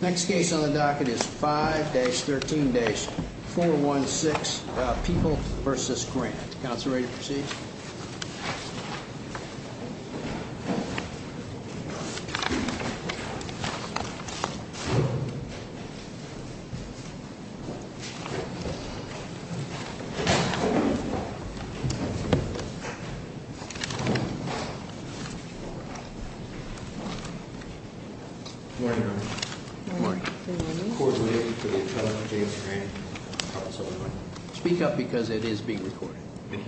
Next case on the docket is 5-13-416 People v. Grant. Counselor, ready to proceed? Good morning, Your Honor. Good morning. Court is lifted for the appellant, James Grant. Speak up because it is being recorded. May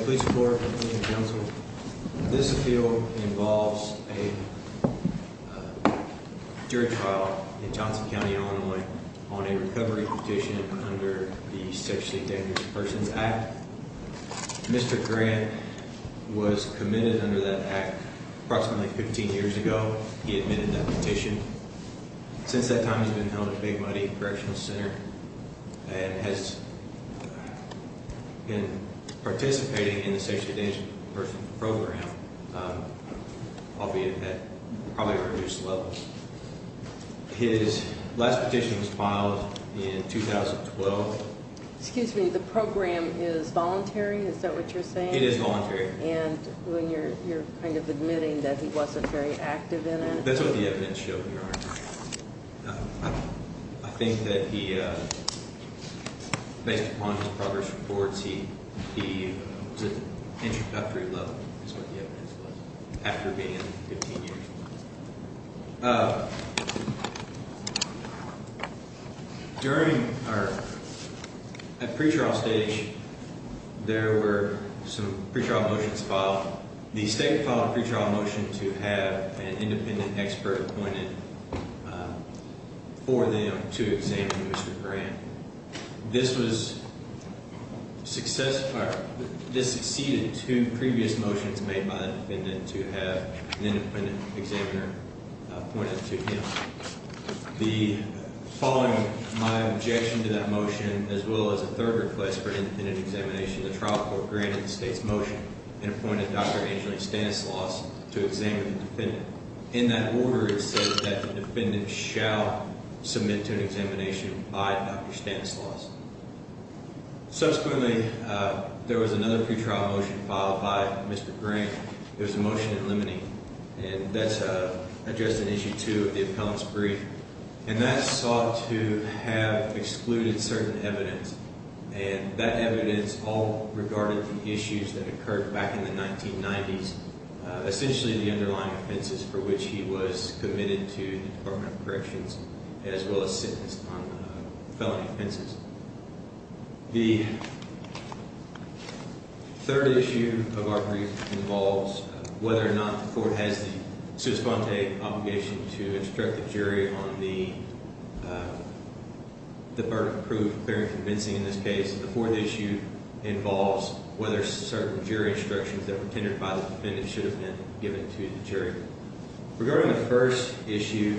I please report, Mr. Counsel? This appeal involves a jury trial in Johnson County, Illinois on a recovery petition under the Sexually Dangerous Persons Act. Mr. Grant was committed under that act approximately 15 years ago. He admitted that petition. Since that time, he has been held at Big Muddy Correctional Center and has been participating in the Sexually Dangerous Persons Program, albeit at probably reduced levels. His last petition was filed in 2012. Excuse me, the program is voluntary, is that what you're saying? It is voluntary. And you're kind of admitting that he wasn't very active in it? That's what the evidence showed, Your Honor. I think that he, based upon his progress reports, he was at an introductory level, is what the evidence was, after being in 15 years. During our pre-trial stage, there were some pre-trial motions filed. The state filed a pre-trial motion to have an independent expert appointed for them to examine Mr. Grant. This succeeded two previous motions made by the defendant to have an independent examiner appointed to him. Following my objection to that motion, as well as a third request for an independent examination, the trial court granted the state's motion and appointed Dr. Angeline Stanislaus to examine the defendant. In that order, it says that the defendant shall submit to an examination by Dr. Stanislaus. Subsequently, there was another pre-trial motion filed by Mr. Grant. It was a motion in limine. And that addressed an issue, too, of the appellant's brief. And that sought to have excluded certain evidence. And that evidence all regarded the issues that occurred back in the 1990s, essentially the underlying offenses for which he was committed to the Department of Corrections, as well as sentenced on felony offenses. The third issue of our brief involves whether or not the court has the sui squante obligation to instruct the jury on the verdict of proof, clear and convincing in this case. The fourth issue involves whether certain jury instructions that were tended by the defendant should have been given to the jury. Regarding the first issue,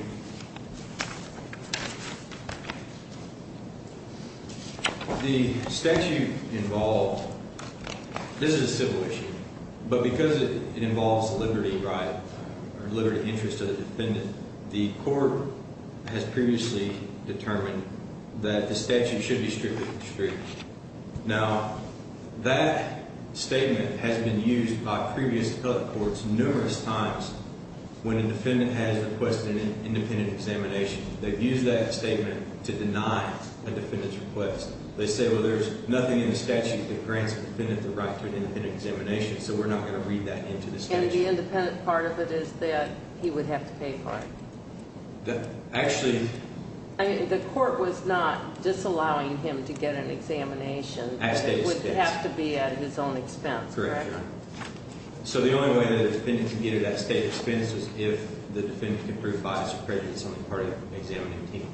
the statute involved, this is a civil issue, but because it involves liberty, right, or liberty of interest to the defendant, the court has previously determined that the statute should be strictly strict. Now, that statement has been used by previous appellate courts numerous times when a defendant has requested an independent examination. They've used that statement to deny a defendant's request. They say, well, there's nothing in the statute that grants a defendant the right to an independent examination, so we're not going to read that into the statute. But the independent part of it is that he would have to pay for it. Actually... The court was not disallowing him to get an examination. At state expense. It would have to be at his own expense, correct? Correct, Your Honor. So the only way that a defendant can get it at state expense is if the defendant can prove bias or prejudice on the part of the examining team.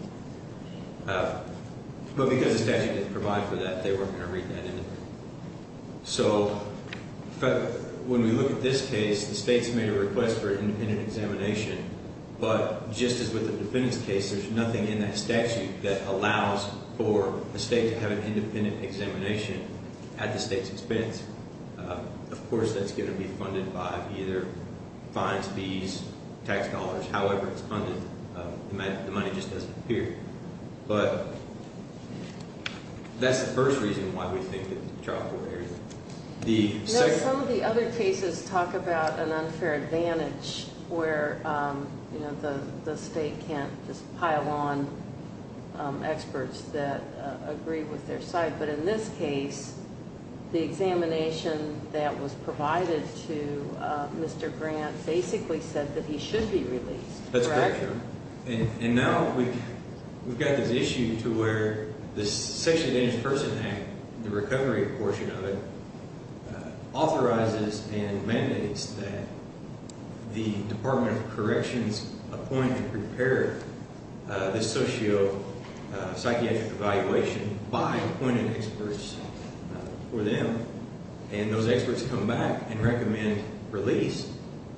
But because the statute didn't provide for that, they weren't going to read that into it. So when we look at this case, the state's made a request for an independent examination, but just as with the defendant's case, there's nothing in that statute that allows for a state to have an independent examination at the state's expense. Of course, that's going to be funded by either fines, fees, tax dollars, however it's funded. The money just doesn't appear. But that's the first reason why we think that the trial court area... Some of the other cases talk about an unfair advantage where the state can't just pile on experts that agree with their side. But in this case, the examination that was provided to Mr. Grant basically said that he should be released. That's correct, Your Honor. And now we've got this issue to where this Sexually Advantaged Persons Act, the recovery portion of it, authorizes and mandates that the Department of Corrections appoint and prepare this socio-psychiatric evaluation by appointed experts for them. And those experts come back and recommend release.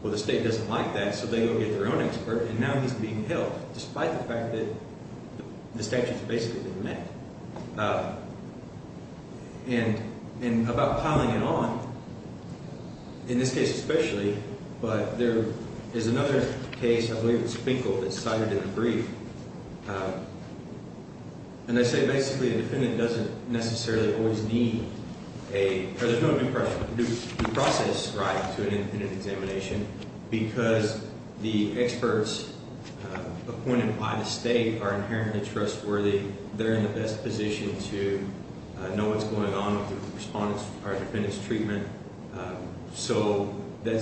Well, the state doesn't like that, so they go get their own expert, and now he's being held, despite the fact that the statute's basically been met. And about piling it on, in this case especially, but there is another case, I believe it's Finkel, that's cited in the brief. And they say basically a defendant doesn't necessarily always need a... because the experts appointed by the state are inherently trustworthy. They're in the best position to know what's going on with the respondent's or the defendant's treatment. So that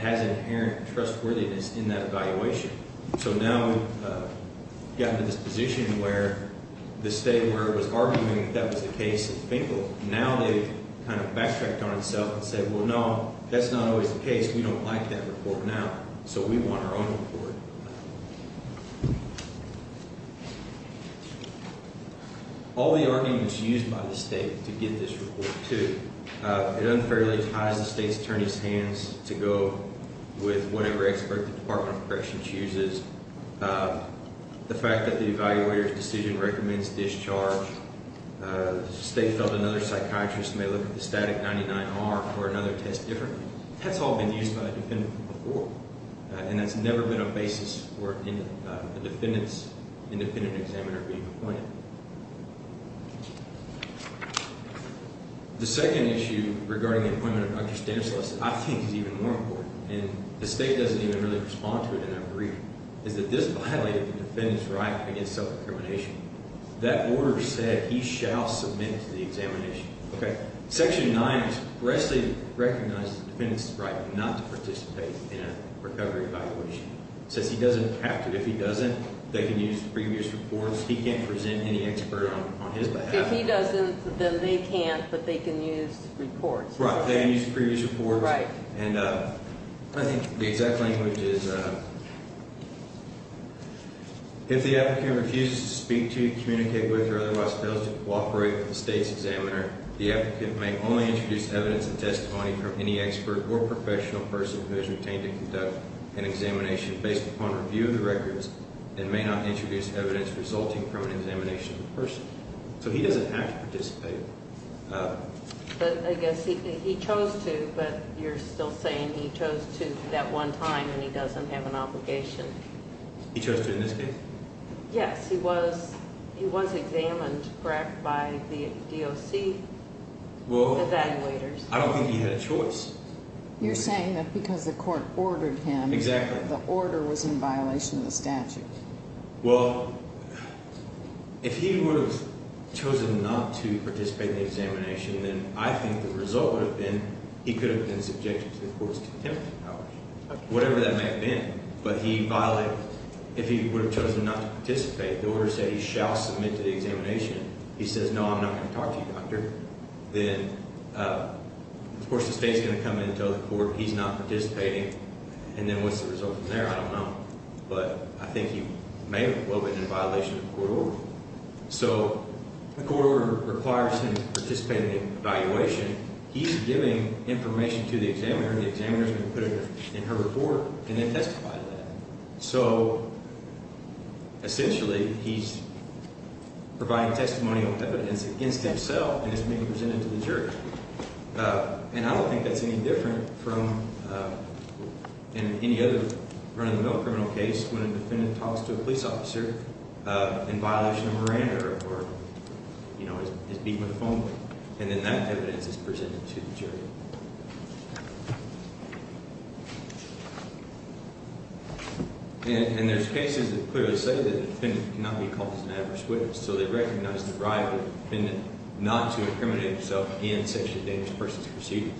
has inherent trustworthiness in that evaluation. So now we've gotten to this position where the state, where it was arguing that that was the case in Finkel, now they've kind of backtracked on itself and said, well, no, that's not always the case. We don't like that report now, so we want our own report. All the arguments used by the state to get this report, too. It unfairly ties the state's attorney's hands to go with whatever expert the Department of Corrections uses. The fact that the evaluator's decision recommends discharge. The state felt another psychiatrist may look at the static 99R for another test differently. That's all been used by the defendant before. And that's never been a basis for a defendant's independent examiner being appointed. The second issue regarding the appointment of Dr. Stanislaus I think is even more important. And the state doesn't even really respond to it in that brief. Is that this violated the defendant's right against self-discrimination. That order said he shall submit to the examination. Section 9 expressly recognizes the defendant's right not to participate in a recovery evaluation. It says he doesn't have to. If he doesn't, they can use previous reports. He can't present any expert on his behalf. If he doesn't, then they can't, but they can use reports. Right, they can use previous reports. Right. And I think the exact language is if the applicant refuses to speak to, communicate with, or otherwise fails to cooperate with the state's examiner, the applicant may only introduce evidence and testimony from any expert or professional person who is retained to conduct an examination based upon review of the records and may not introduce evidence resulting from an examination of the person. So he doesn't have to participate. But I guess he chose to, but you're still saying he chose to that one time and he doesn't have an obligation. He chose to in this case. Yes, he was examined by the DOC evaluators. I don't think he had a choice. You're saying that because the court ordered him, the order was in violation of the statute. Well, if he would have chosen not to participate in the examination, then I think the result would have been he could have been subjected to the court's contempt power, whatever that may have been. But he violated it. If he would have chosen not to participate, the order said he shall submit to the examination. He says, no, I'm not going to talk to you, Doctor. Then, of course, the state's going to come in and tell the court he's not participating. And then what's the result from there? I don't know. But I think he may well have been in violation of the court order. So the court order requires him to participate in the evaluation. He's giving information to the examiner, and the examiner is going to put it in her report and then testify to that. So, essentially, he's providing testimonial evidence against himself, and it's being presented to the jury. And I don't think that's any different from any other run-of-the-mill criminal case when a defendant talks to a police officer in violation of Miranda or, you know, is beaten with a phone. And then that evidence is presented to the jury. And there's cases that clearly say that a defendant cannot be called as an adverse witness. So they recognize the right of the defendant not to incriminate himself in sexually dangerous persons proceedings.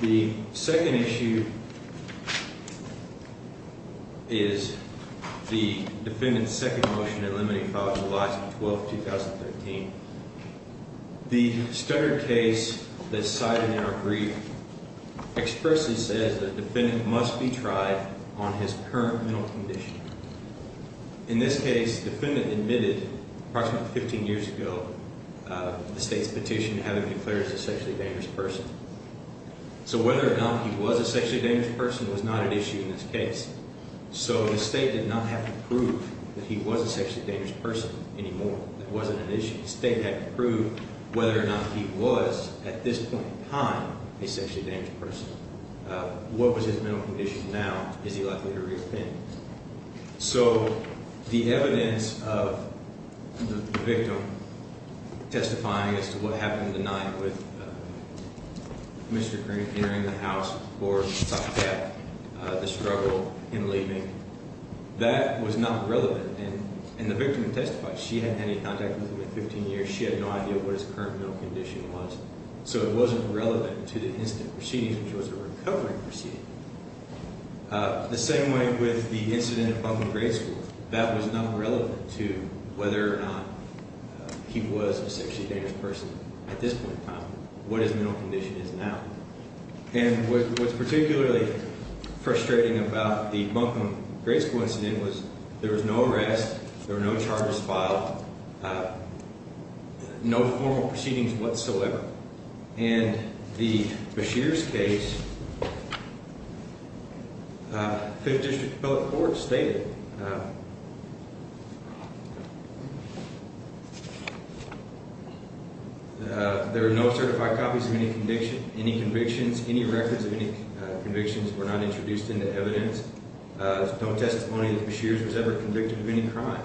The second issue is the defendant's second motion in limiting files, July 12, 2013. The standard case that's cited in our brief expressly says the defendant must be tried on his current mental condition. In this case, the defendant admitted, approximately 15 years ago, the state's petition to have him declared as a sexually dangerous person. So whether or not he was a sexually dangerous person was not an issue in this case. So the state did not have to prove that he was a sexually dangerous person anymore. That wasn't an issue. The state had to prove whether or not he was, at this point in time, a sexually dangerous person. What was his mental condition now? Is he likely to repent? So the evidence of the victim testifying as to what happened the night with Mr. Crink entering the house, or the struggle in leaving, that was not relevant. And the victim testified. She hadn't had any contact with him in 15 years. She had no idea what his current mental condition was. So it wasn't relevant to the incident proceedings, which was a recovery proceeding. The same way with the incident at Buncombe Grade School. That was not relevant to whether or not he was a sexually dangerous person at this point in time. What his mental condition is now. And what's particularly frustrating about the Buncombe Grade School incident was there was no arrest. There were no charges filed. No formal proceedings whatsoever. And the Beshears case, Fifth District Appellate Court, stated there were no certified copies of any conviction. Any convictions, any records of any convictions were not introduced into evidence. There's no testimony that Beshears was ever convicted of any crime.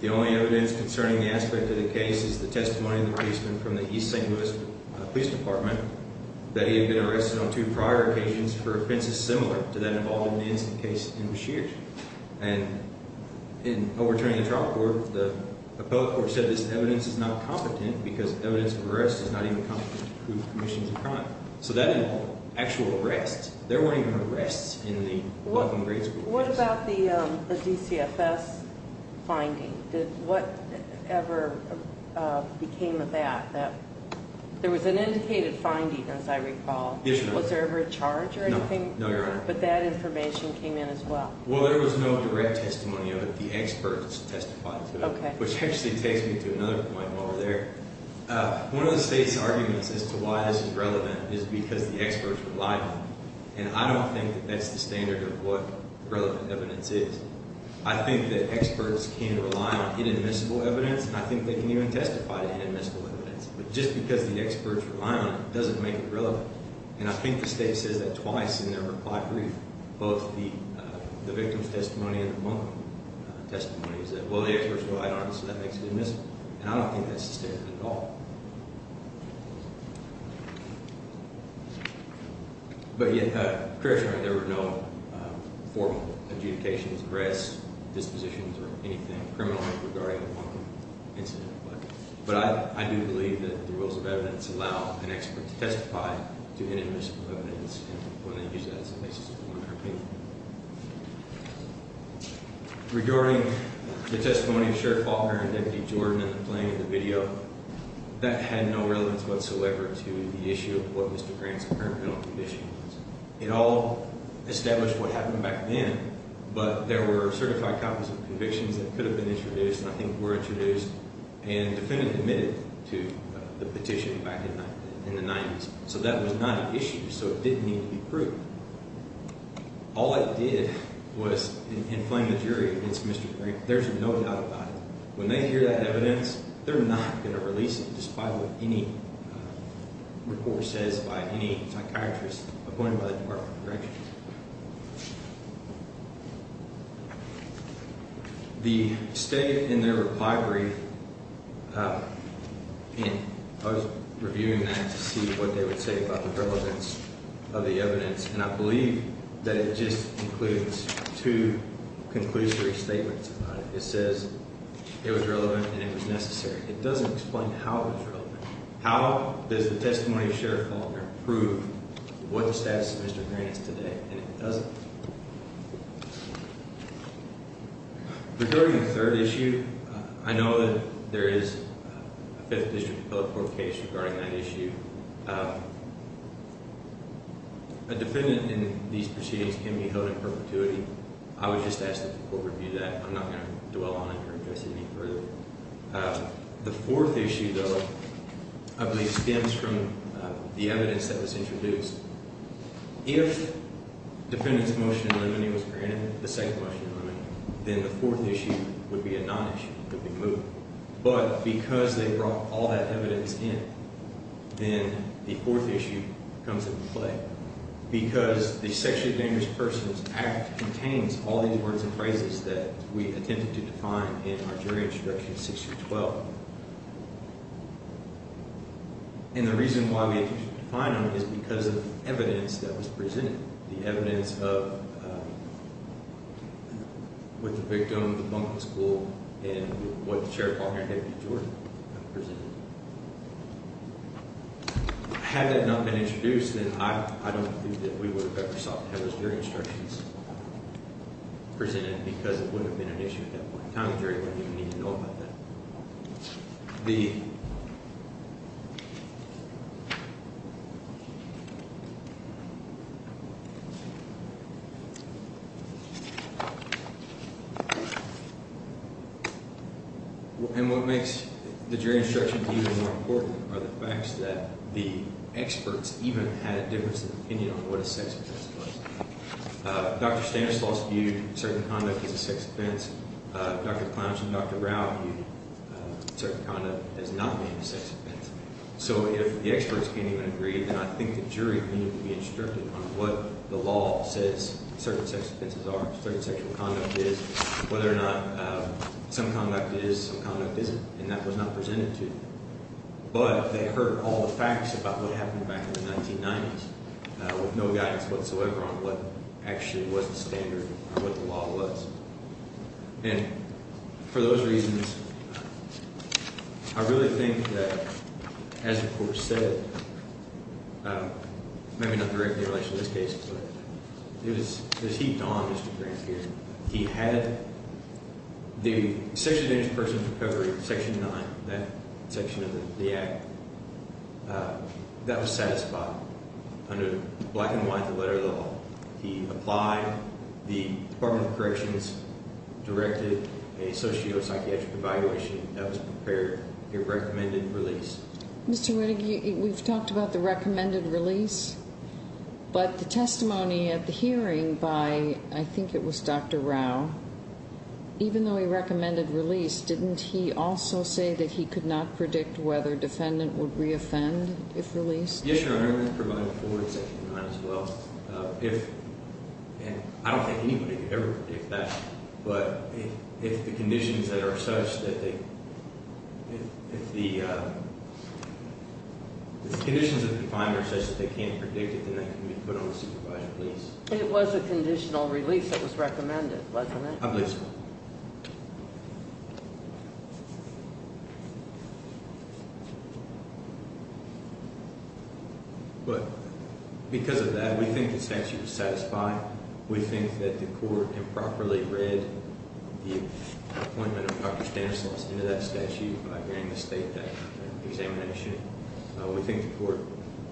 The only evidence concerning the aspect of the case is the testimony of the policeman from the East St. Louis Police Department that he had been arrested on two prior occasions for offenses similar to that involved in the incident case in Beshears. And in overturning the trial court, the appellate court said this evidence is not competent because evidence of arrest is not even competent to prove commissions of crime. So that involved actual arrests. There weren't even arrests in the Buncombe Grade School case. What about the DCFS finding? What ever became of that? There was an indicated finding, as I recall. Yes, Your Honor. Was there ever a charge or anything? No, Your Honor. But that information came in as well. Well, there was no direct testimony of it. The experts testified to it. Okay. Which actually takes me to another point while we're there. One of the State's arguments as to why this is relevant is because the experts relied on it. And I don't think that that's the standard of what relevant evidence is. I think that experts can rely on inadmissible evidence, and I think they can even testify to inadmissible evidence. But just because the experts rely on it doesn't make it relevant. And I think the State says that twice in their reply brief, both the victim's testimony and the Buncombe testimony, is that, well, the experts relied on it, so that makes it inadmissible. And I don't think that's the standard at all. But, Your Honor, there were no formal adjudications, arrests, dispositions, or anything criminal regarding the Buncombe incident. But I do believe that the rules of evidence allow an expert to testify to inadmissible evidence, and we're going to use that as a basis of our opinion. Regarding the testimony of Sheriff Faulkner and Deputy Jordan in the playing of the video, that had no relevance whatsoever to the issue of what Mr. Grant's current criminal conviction was. It all established what happened back then, but there were certified copies of convictions that could have been introduced, and I think were introduced, and the defendant admitted to the petition back in the 90s. So that was not an issue, so it didn't need to be proved. All it did was inflame the jury against Mr. Grant. There's no doubt about it. When they hear that evidence, they're not going to release it, despite what any report says by any psychiatrist appointed by the Department of Corrections. The state in their reply brief, and I was reviewing that to see what they would say about the relevance of the evidence, and I believe that it just includes two conclusory statements about it. It says it was relevant and it was necessary. It doesn't explain how it was relevant. How does the testimony of Sheriff Faulkner prove what the status of Mr. Grant is today? And it doesn't. Regarding the third issue, I know that there is a Fifth District Appellate Court case regarding that issue. A defendant in these proceedings can be held in perpetuity. I would just ask that the court review that. I'm not going to dwell on it or address it any further. The fourth issue, though, I believe stems from the evidence that was introduced. If defendant's motion in limine was granted, the second motion in limine, then the fourth issue would be a non-issue. It would be moved. But because they brought all that evidence in, then the fourth issue comes into play. Because the Sexually Dangerous Persons Act contains all these words and phrases that we attempted to define in our jury introduction in 6-12. And the reason why we had to define them is because of the evidence that was presented, the evidence of what the victim, the bunking school, and what Sheriff Faulkner had to do to Jordan. Had that not been introduced, then I don't think that we would have ever sought to have those jury instructions presented because it wouldn't have been an issue at that point in time. The jury wouldn't even need to know about that. The... And what makes the jury instructions even more important are the facts that the experts even had a difference of opinion on what a sex offense was. Dr. Stanislaus viewed certain conduct as a sex offense. Dr. Clownish and Dr. Rao viewed certain conduct as not being a sex offense. So if the experts can't even agree, then I think the jury needn't be instructed on what the law says certain sex offenses are, certain sexual conduct is, whether or not some conduct is, some conduct isn't, and that was not presented to them. But they heard all the facts about what happened back in the 1990s with no guidance whatsoever on what actually was the standard or what the law was. And for those reasons, I really think that, as the court said, maybe not directly in relation to this case, but it was heaped on Mr. Grants here. He had the sex offended persons recovery section 9, that section of the act, that was satisfied under black and white the letter of the law. He applied. The Department of Corrections directed a socio-psychiatric evaluation that was prepared, a recommended release. Mr. Reddick, we've talked about the recommended release, but the testimony at the hearing by, I think it was Dr. Rao, even though he recommended release, didn't he also say that he could not predict whether defendant would re-offend if released? Yes, Your Honor. If, and I don't think anybody could ever predict that. But if the conditions that are such that they, if the conditions of the defendant are such that they can't predict it, then that can be put on the supervisor, please. It was a conditional release that was recommended, wasn't it? I believe so. But because of that, we think the statute is satisfied. We think that the court improperly read the appointment of Dr. Stanislaus into that statute during the state examination. We think the court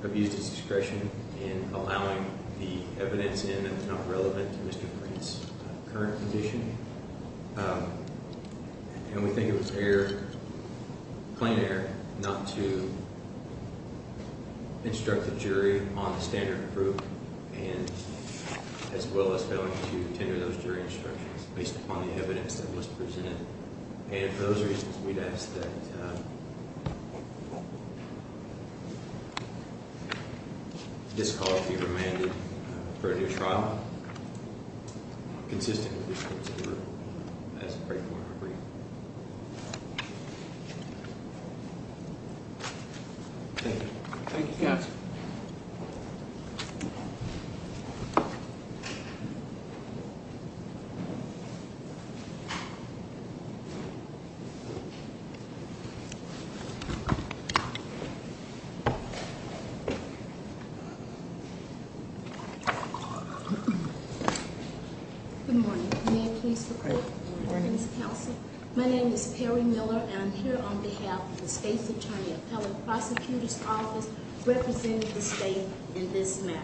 abused its discretion in allowing the evidence in that's not relevant to Mr. Reed's current condition. And we think it was error, plain error, not to instruct the jury on the standard of proof, and as well as failing to tender those jury instructions based upon the evidence that was presented. And for those reasons, we'd ask that this call be remanded for a new trial, consistent with the court's order as a break point. Thank you. Thank you, counsel. Good morning. May I please report? Good morning. My name is Perry Miller, and I'm here on behalf of the State's Attorney Appellate Prosecutor's Office representing the state in this matter.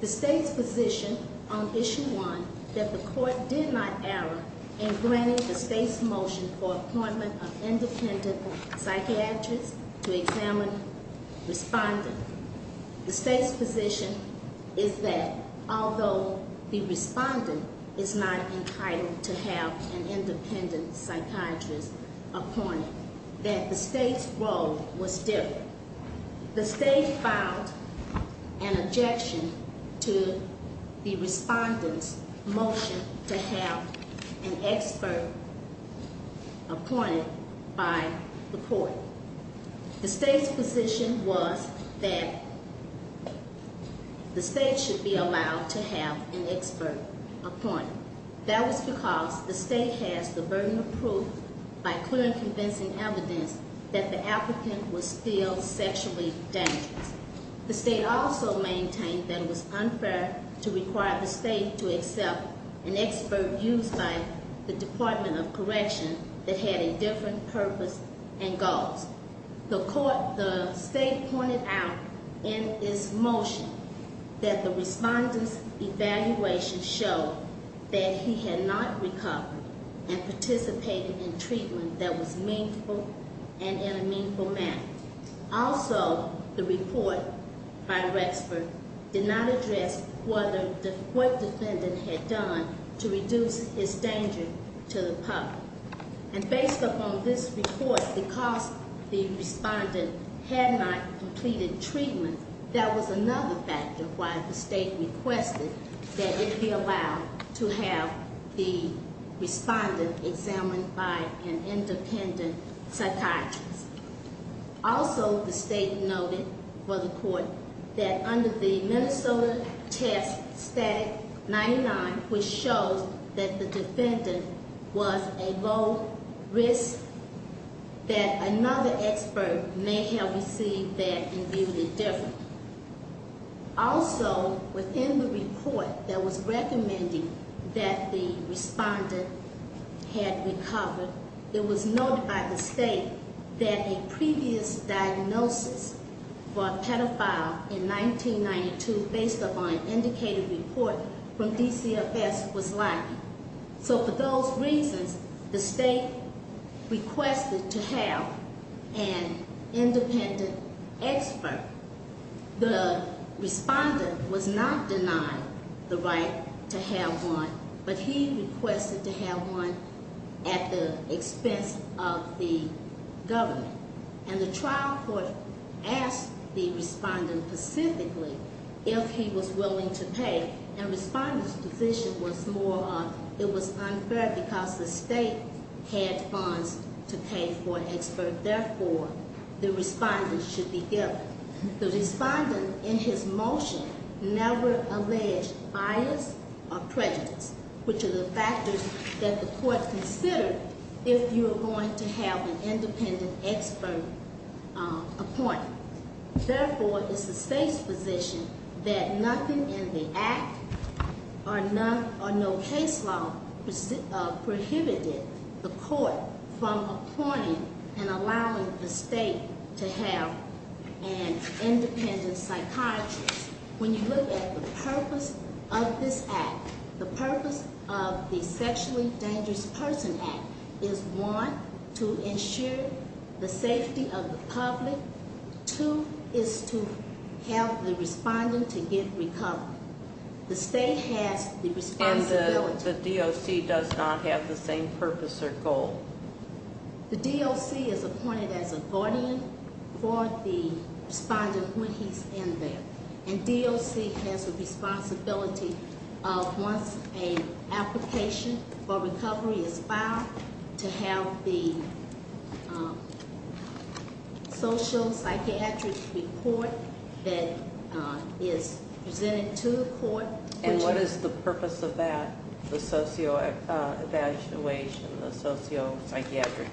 The state's position on issue one, that the court did not err in granting the state's motion for appointment of independent psychiatrist to examine respondent. The state's position is that although the respondent is not entitled to have an independent psychiatrist appointed, that the state's role was different. The state filed an objection to the respondent's motion to have an expert appointed by the court. The state's position was that the state should be allowed to have an expert appointed. That was because the state has the burden of proof by clear and convincing evidence that the applicant was still sexually dangerous. The state also maintained that it was unfair to require the state to accept an expert used by the Department of Correction that had a different purpose and goals. The state pointed out in its motion that the respondent's evaluation showed that he had not recovered and participated in treatment that was meaningful and in a meaningful manner. Also, the report by Rexford did not address what the court defendant had done to reduce his danger to the public. And based upon this report, because the respondent had not completed treatment, that was another factor why the state requested that it be allowed to have the respondent examined by an independent psychiatrist. Also, the state noted for the court that under the Minnesota test static 99, which shows that the defendant was a low risk, that another expert may have received that and viewed it differently. Also, within the report that was recommending that the respondent had recovered, it was noted by the state that a previous diagnosis for a pedophile in 1992, based upon an indicated report from DCFS, was likely. So for those reasons, the state requested to have an independent expert. The respondent was not denied the right to have one, but he requested to have one at the expense of the government. And the trial court asked the respondent specifically if he was willing to pay, and the respondent's position was more of, it was unfair because the state had funds to pay for an expert. Therefore, the respondent should be given. The respondent, in his motion, never alleged bias or prejudice, which are the factors that the court considered if you were going to have an independent expert appointed. Therefore, it's the state's position that nothing in the act or no case law prohibited the court from appointing and allowing the state to have an independent psychiatrist. When you look at the purpose of this act, the purpose of the Sexually Dangerous Person Act is one, to ensure the safety of the public. Two, is to help the respondent to get recovered. The state has the responsibility- And the DOC does not have the same purpose or goal. The DOC is appointed as a guardian for the respondent when he's in there. And DOC has the responsibility of, once an application for recovery is filed, to have the sociopsychiatric report that is presented to the court. And what is the purpose of that, the sociopsychiatric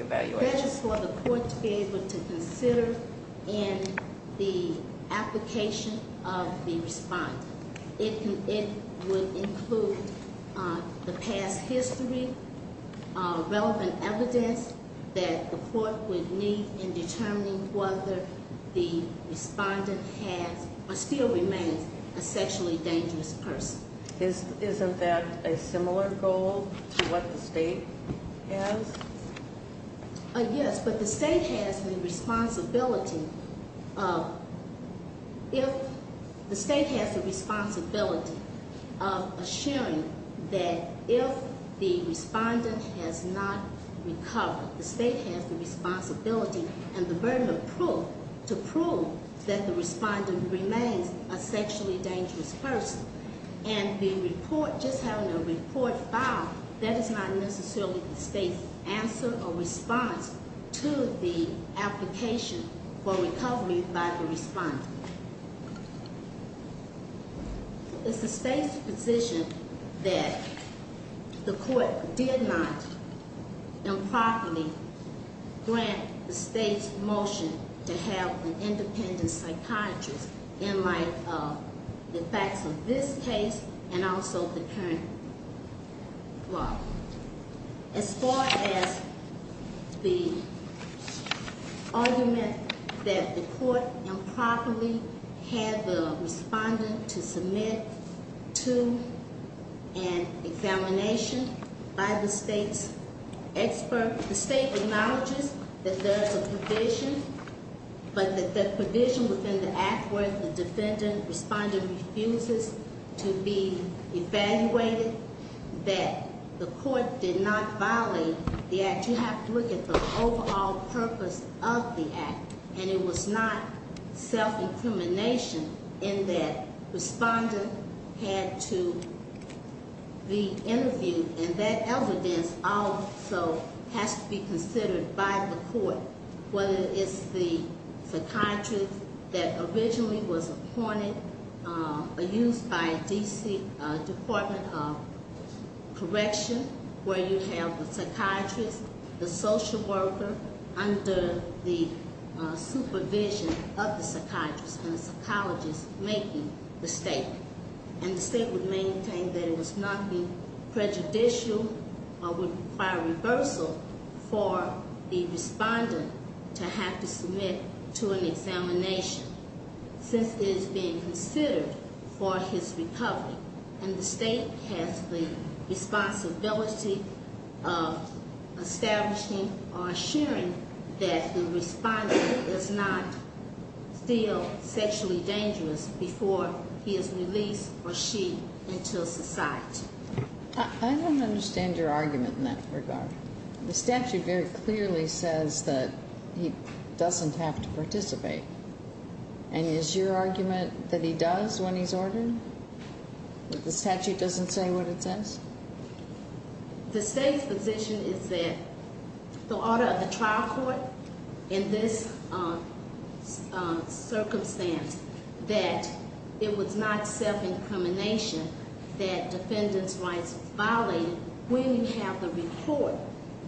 evaluation? That is for the court to be able to consider in the application of the respondent. It would include the past history, relevant evidence that the court would need in determining whether the respondent has or still remains a sexually dangerous person. Isn't that a similar goal to what the state has? Yes, but the state has the responsibility of assuring that if the respondent has not recovered, the state has the responsibility and the burden of proof to prove that the respondent remains a sexually dangerous person. And the report, just having a report filed, that is not necessarily the state's answer or response to the application for recovery by the respondent. It's the state's position that the court did not improperly grant the state's motion to have an independent psychiatrist in light of the facts of this case and also the current law. As far as the argument that the court improperly had the respondent to submit to an examination by the state's expert, the state acknowledges that there is a provision, but that the provision within the act where the defendant, respondent, refuses to be evaluated, that the court did not violate the act. You have to look at the overall purpose of the act, and it was not self-incrimination in that respondent had to be interviewed, and that evidence also has to be considered by the court, whether it's the psychiatrist that originally was appointed or used by D.C. Department of Correction, where you have the psychiatrist, the social worker, under the supervision of the psychiatrist and the psychologist making the statement. And the state would maintain that it was not being prejudicial or would require reversal for the respondent to have to submit to an examination since it is being considered for his recovery. And the state has the responsibility of establishing or assuring that the respondent is not still sexually dangerous before he is released or she into society. I don't understand your argument in that regard. The statute very clearly says that he doesn't have to participate. And is your argument that he does when he's ordered, that the statute doesn't say what it says? The state's position is that the order of the trial court in this circumstance, that it was not self-incrimination that defendants' rights were violated when you have the report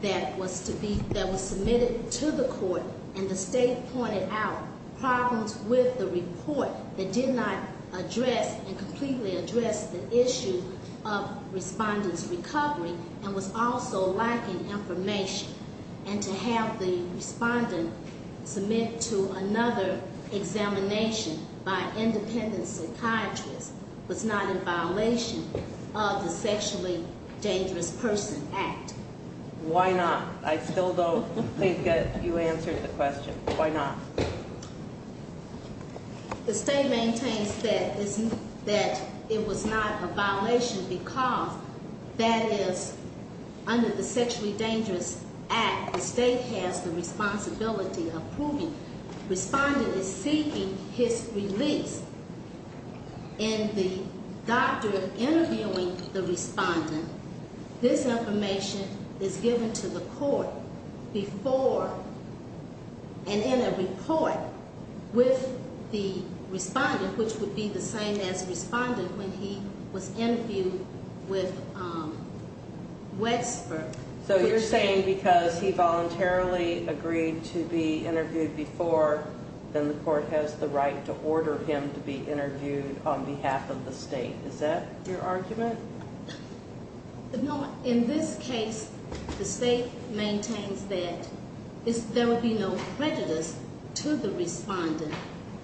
that was submitted to the court, and the state pointed out problems with the report that did not address and completely address the issue of respondent's recovery and was also lacking information. And to have the respondent submit to another examination by an independent psychiatrist was not in violation of the Sexually Dangerous Person Act. Why not? I still don't think that you answered the question. Why not? The state maintains that it was not a violation because that is under the Sexually Dangerous Act. The state has the responsibility of proving. Respondent is seeking his release, and the doctor interviewing the respondent, this information is given to the court before and in a report with the respondent, which would be the same as respondent when he was interviewed with Westbrook. So you're saying because he voluntarily agreed to be interviewed before, then the court has the right to order him to be interviewed on behalf of the state. Is that your argument? No. In this case, the state maintains that there would be no prejudice to the respondent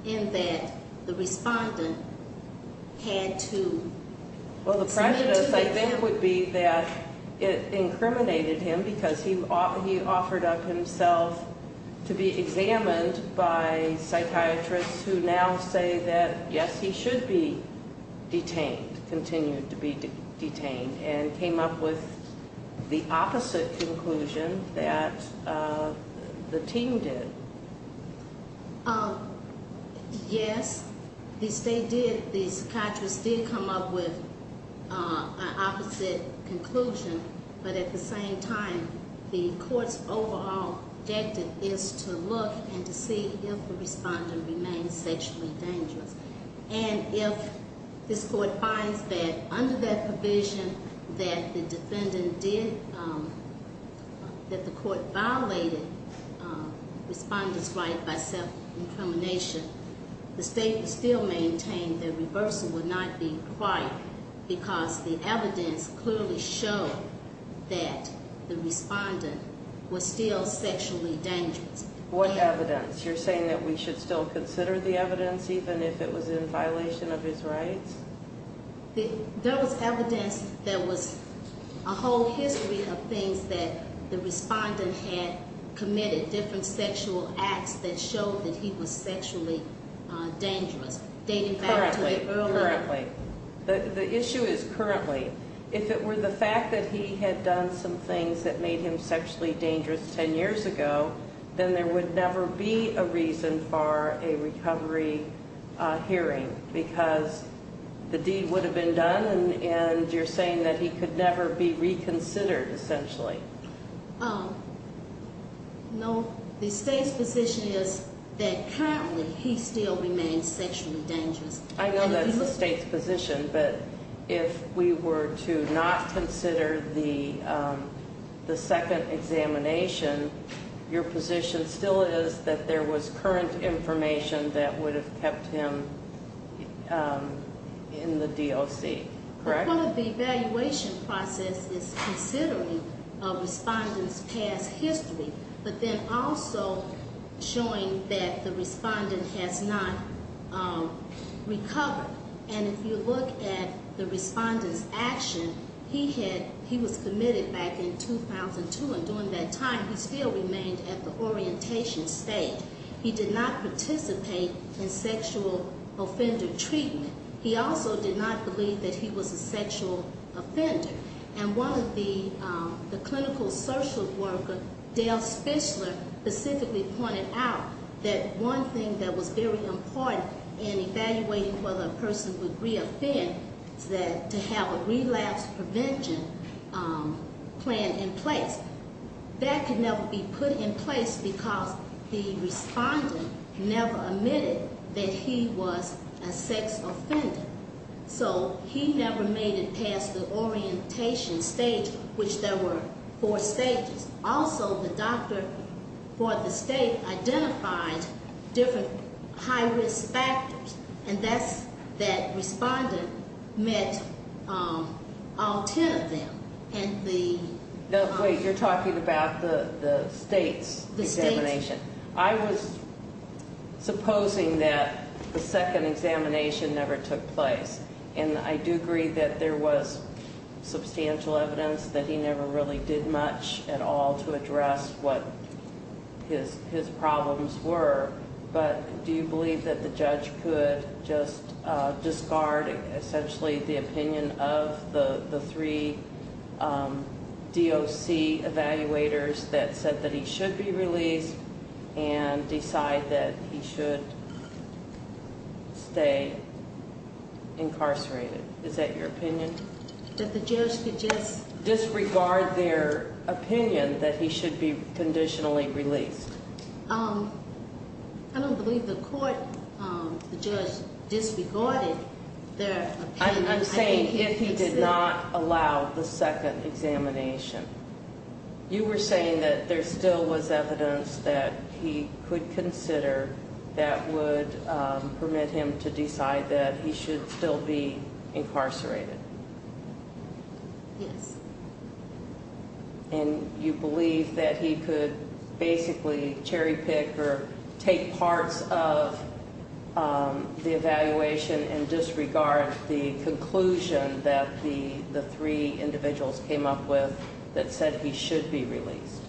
in that the respondent had to submit to the court. Your argument would be that it incriminated him because he offered up himself to be examined by psychiatrists who now say that, yes, he should be detained, continue to be detained, and came up with the opposite conclusion that the team did. Yes, the state did. The psychiatrists did come up with an opposite conclusion. But at the same time, the court's overall objective is to look and to see if the respondent remains sexually dangerous. And if this court finds that under that provision that the defendant did, that the court violated the respondent's right by self-incrimination, the state would still maintain that reversal would not be required because the evidence clearly showed that the respondent was still sexually dangerous. What evidence? You're saying that we should still consider the evidence even if it was in violation of his rights? There was evidence. There was a whole history of things that the respondent had committed, different sexual acts that showed that he was sexually dangerous, dating back to earlier. Currently, currently. The issue is currently. If it were the fact that he had done some things that made him sexually dangerous 10 years ago, then there would never be a reason for a recovery hearing because the deed would have been done and you're saying that he could never be reconsidered essentially. No, the state's position is that currently he still remains sexually dangerous. I know that's the state's position, but if we were to not consider the second examination, your position still is that there was current information that would have kept him in the DOC, correct? Part of the evaluation process is considering a respondent's past history, but then also showing that the respondent has not recovered. And if you look at the respondent's action, he was committed back in 2002, and during that time he still remained at the orientation state. He did not participate in sexual offender treatment. He also did not believe that he was a sexual offender. And one of the clinical social worker, Dale Spitzler, specifically pointed out that one thing that was very important in evaluating whether a person would reoffend is to have a relapse prevention plan in place. That could never be put in place because the respondent never admitted that he was a sex offender. So he never made it past the orientation stage, which there were four stages. Also, the doctor for the state identified different high-risk factors, and that's that respondent met all ten of them. No, wait, you're talking about the state's examination. I was supposing that the second examination never took place, and I do agree that there was substantial evidence that he never really did much at all to address what his problems were, but do you believe that the judge could just discard essentially the opinion of the three DOC evaluators that said that he should be released and decide that he should stay incarcerated? Is that your opinion? That the judge could just- Disregard their opinion that he should be conditionally released. I don't believe the court, the judge disregarded their opinion. I'm saying if he did not allow the second examination. You were saying that there still was evidence that he could consider that would permit him to decide that he should still be incarcerated. Yes. And you believe that he could basically cherry-pick or take parts of the evaluation and disregard the conclusion that the three individuals came up with that said he should be released?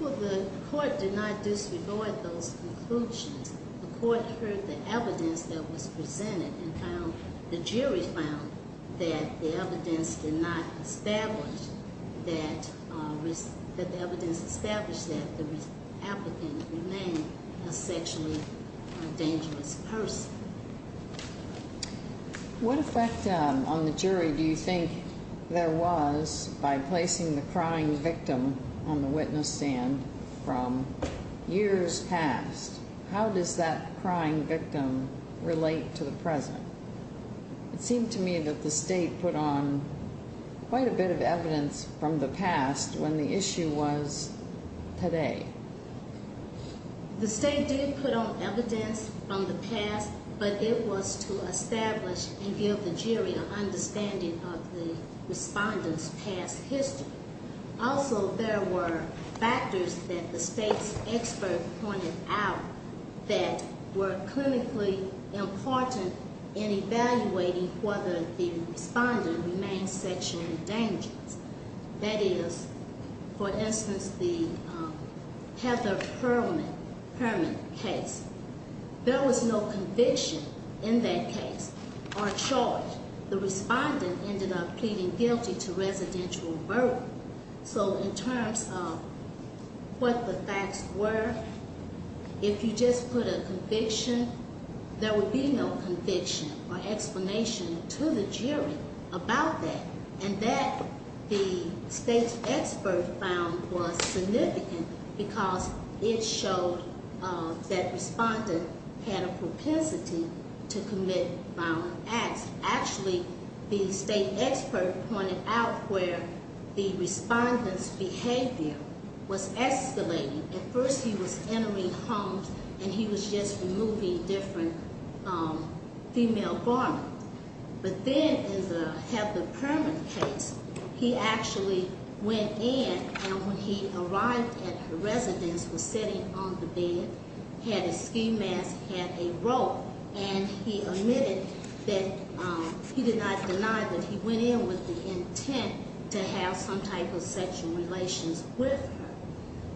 Well, the court did not disregard those conclusions. The court heard the evidence that was presented and found- that the evidence established that the applicant remained a sexually dangerous person. What effect on the jury do you think there was by placing the crying victim on the witness stand from years past? How does that crying victim relate to the present? It seemed to me that the state put on quite a bit of evidence from the past when the issue was today. The state did put on evidence from the past, but it was to establish and give the jury an understanding of the respondent's past history. Also, there were factors that the state's expert pointed out that were clinically important in evaluating whether the respondent remained sexually dangerous. That is, for instance, the Heather Herman case. There was no conviction in that case or charge. The respondent ended up pleading guilty to residential murder. So in terms of what the facts were, if you just put a conviction, there would be no conviction or explanation to the jury about that. And that, the state's expert found, was significant because it showed that the respondent had a propensity to commit violent acts. Actually, the state expert pointed out where the respondent's behavior was escalating. At first, he was entering homes and he was just removing different female garments. But then in the Heather Herman case, he actually went in and when he arrived at her residence, was sitting on the bed, had a ski mask, had a rope, and he admitted that he did not deny that he went in with the intent to have some type of sexual relations with her.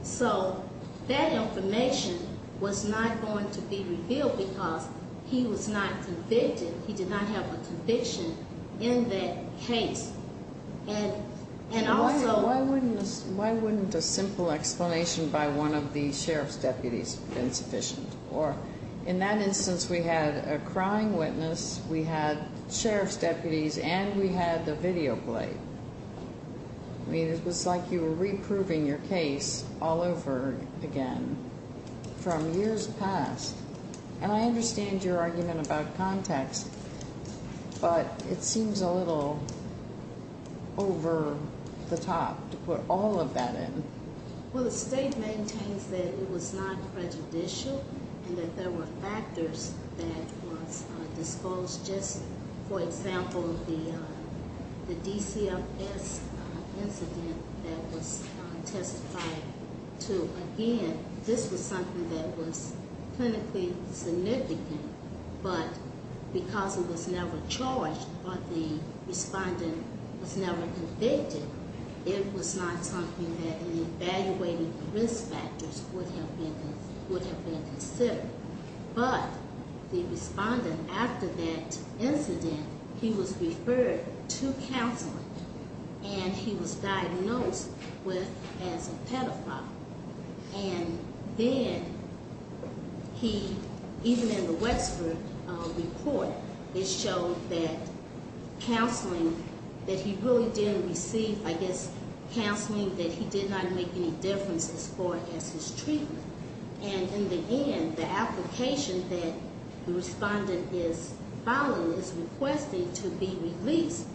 So that information was not going to be revealed because he was not convicted. He did not have a conviction in that case. And also... Why wouldn't a simple explanation by one of the sheriff's deputies have been sufficient? Or in that instance, we had a crying witness, we had sheriff's deputies, and we had the video played. I mean, it was like you were reproving your case all over again from years past. And I understand your argument about context, but it seems a little over the top to put all of that in. Well, the state maintains that it was not prejudicial and that there were factors that was disclosed. Just for example, the DCFS incident that was testified to, again, this was something that was clinically significant. But because it was never charged, but the respondent was never convicted, it was not something that any evaluated risk factors would have been considered. But the respondent, after that incident, he was referred to counseling, and he was diagnosed as a pedophile. And then he, even in the Westford report, it showed that counseling that he really didn't receive, I guess counseling that he did not make any difference as far as his treatment. And in the end, the application that the respondent is filing is requested to be released,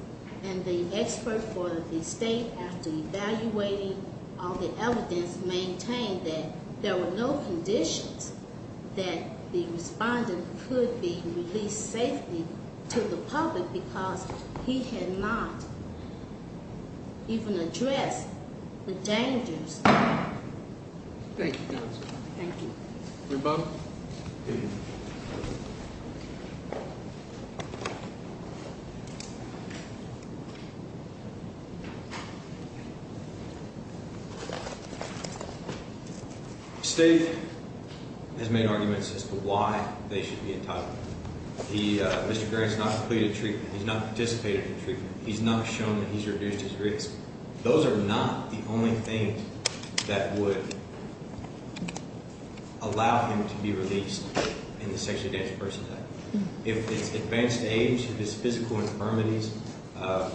and the expert for the state, after evaluating all the evidence, maintained that there were no conditions that the respondent could be released safely to the public because he had not even addressed the dangers. Thank you, counsel. Thank you. Rebuttal. State has made arguments as to why they should be entitled. Mr. Grant has not completed treatment. He's not participated in treatment. He's not shown that he's reduced his risk. Those are not the only things that would allow him to be released in the Sexually Advanced Persons Act. If it's advanced age, if it's physical infirmities, if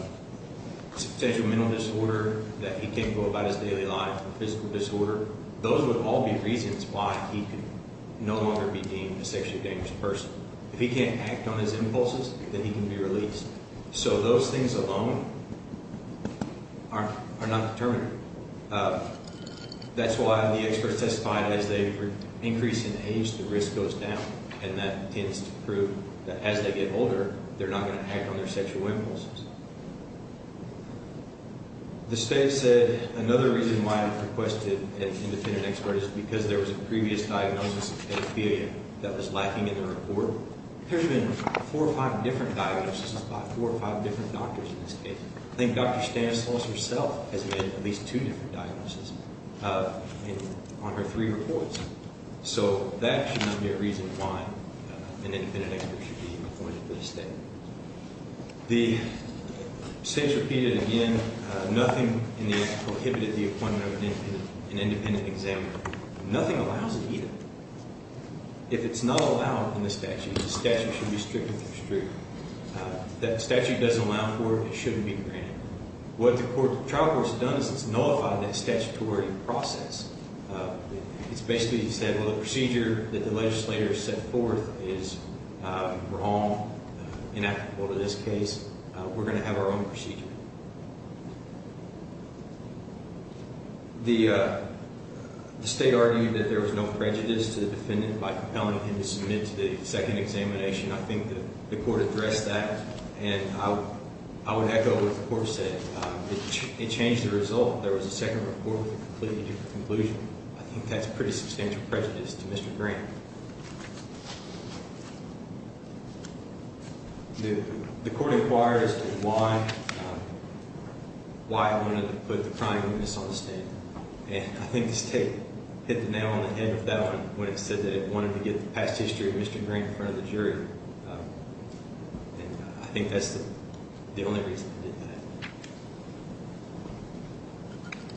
it's a potential mental disorder that he can't go about his daily life, a physical disorder, those would all be reasons why he could no longer be deemed a sexually dangerous person. If he can't act on his impulses, then he can be released. So those things alone are not determinative. That's why the expert testified that as they increase in age, the risk goes down, and that tends to prove that as they get older, they're not going to act on their sexual impulses. The state said another reason why it requested an independent expert is because there was a previous diagnosis of pedophilia that was lacking in the report. There's been four or five different diagnoses by four or five different doctors in this case. I think Dr. Stanislaus herself has made at least two different diagnoses on her three reports. So that should not be a reason why an independent expert should be appointed to the state. The state's repeated again, nothing in the act prohibited the appointment of an independent examiner. Nothing allows it either. If it's not allowed in the statute, the statute should be stricter than it's true. If the statute doesn't allow for it, it shouldn't be granted. What the trial court has done is it's nullified that statutory process. It's basically said, well, the procedure that the legislator set forth is wrong, inactive for this case. We're going to have our own procedure. The state argued that there was no prejudice to the defendant by compelling him to submit to the second examination. I think the court addressed that. And I would echo what the court said. It changed the result. There was a second report with a completely different conclusion. I think that's pretty substantial prejudice to Mr. Grant. The court inquired as to why it wanted to put the prime witness on the stand. And I think the state hit the nail on the head with that one when it said that it wanted to get the past history of Mr. Grant in front of the jury. And I think that's the only reason it did that.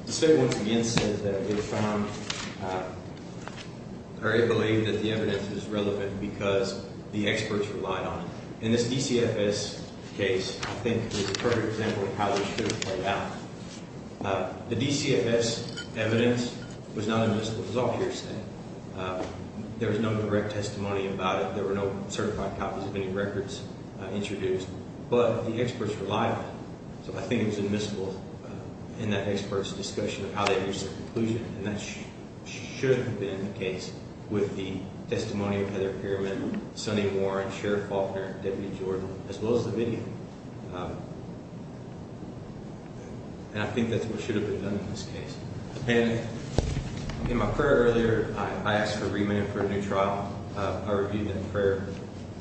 The state once again says that it found, or it believed that the evidence was relevant because the experts relied on it. In this DCFS case, I think there's a perfect example of how this should have played out. The DCFS evidence was not admissible. It was all hearsay. There was no direct testimony about it. There were no certified copies of any records introduced. But the experts relied on it. So I think it was admissible in that expert's discussion of how they reached a conclusion. And that should have been the case with the testimony of Heather Pierman, Sonny Warren, Sheriff Faulkner, Deputy Jordan, as well as the video. And I think that's what should have been done in this case. And in my prayer earlier, I asked for remand for a new trial. I reviewed that prayer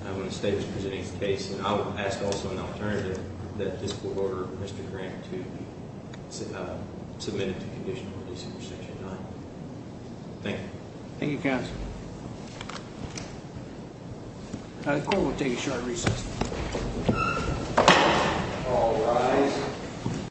when the state was presenting its case. And I would ask also an alternative, that this court order Mr. Grant to be submitted to conditional release under Section 9. Thank you. Thank you, counsel. The court will take a short recess. All rise.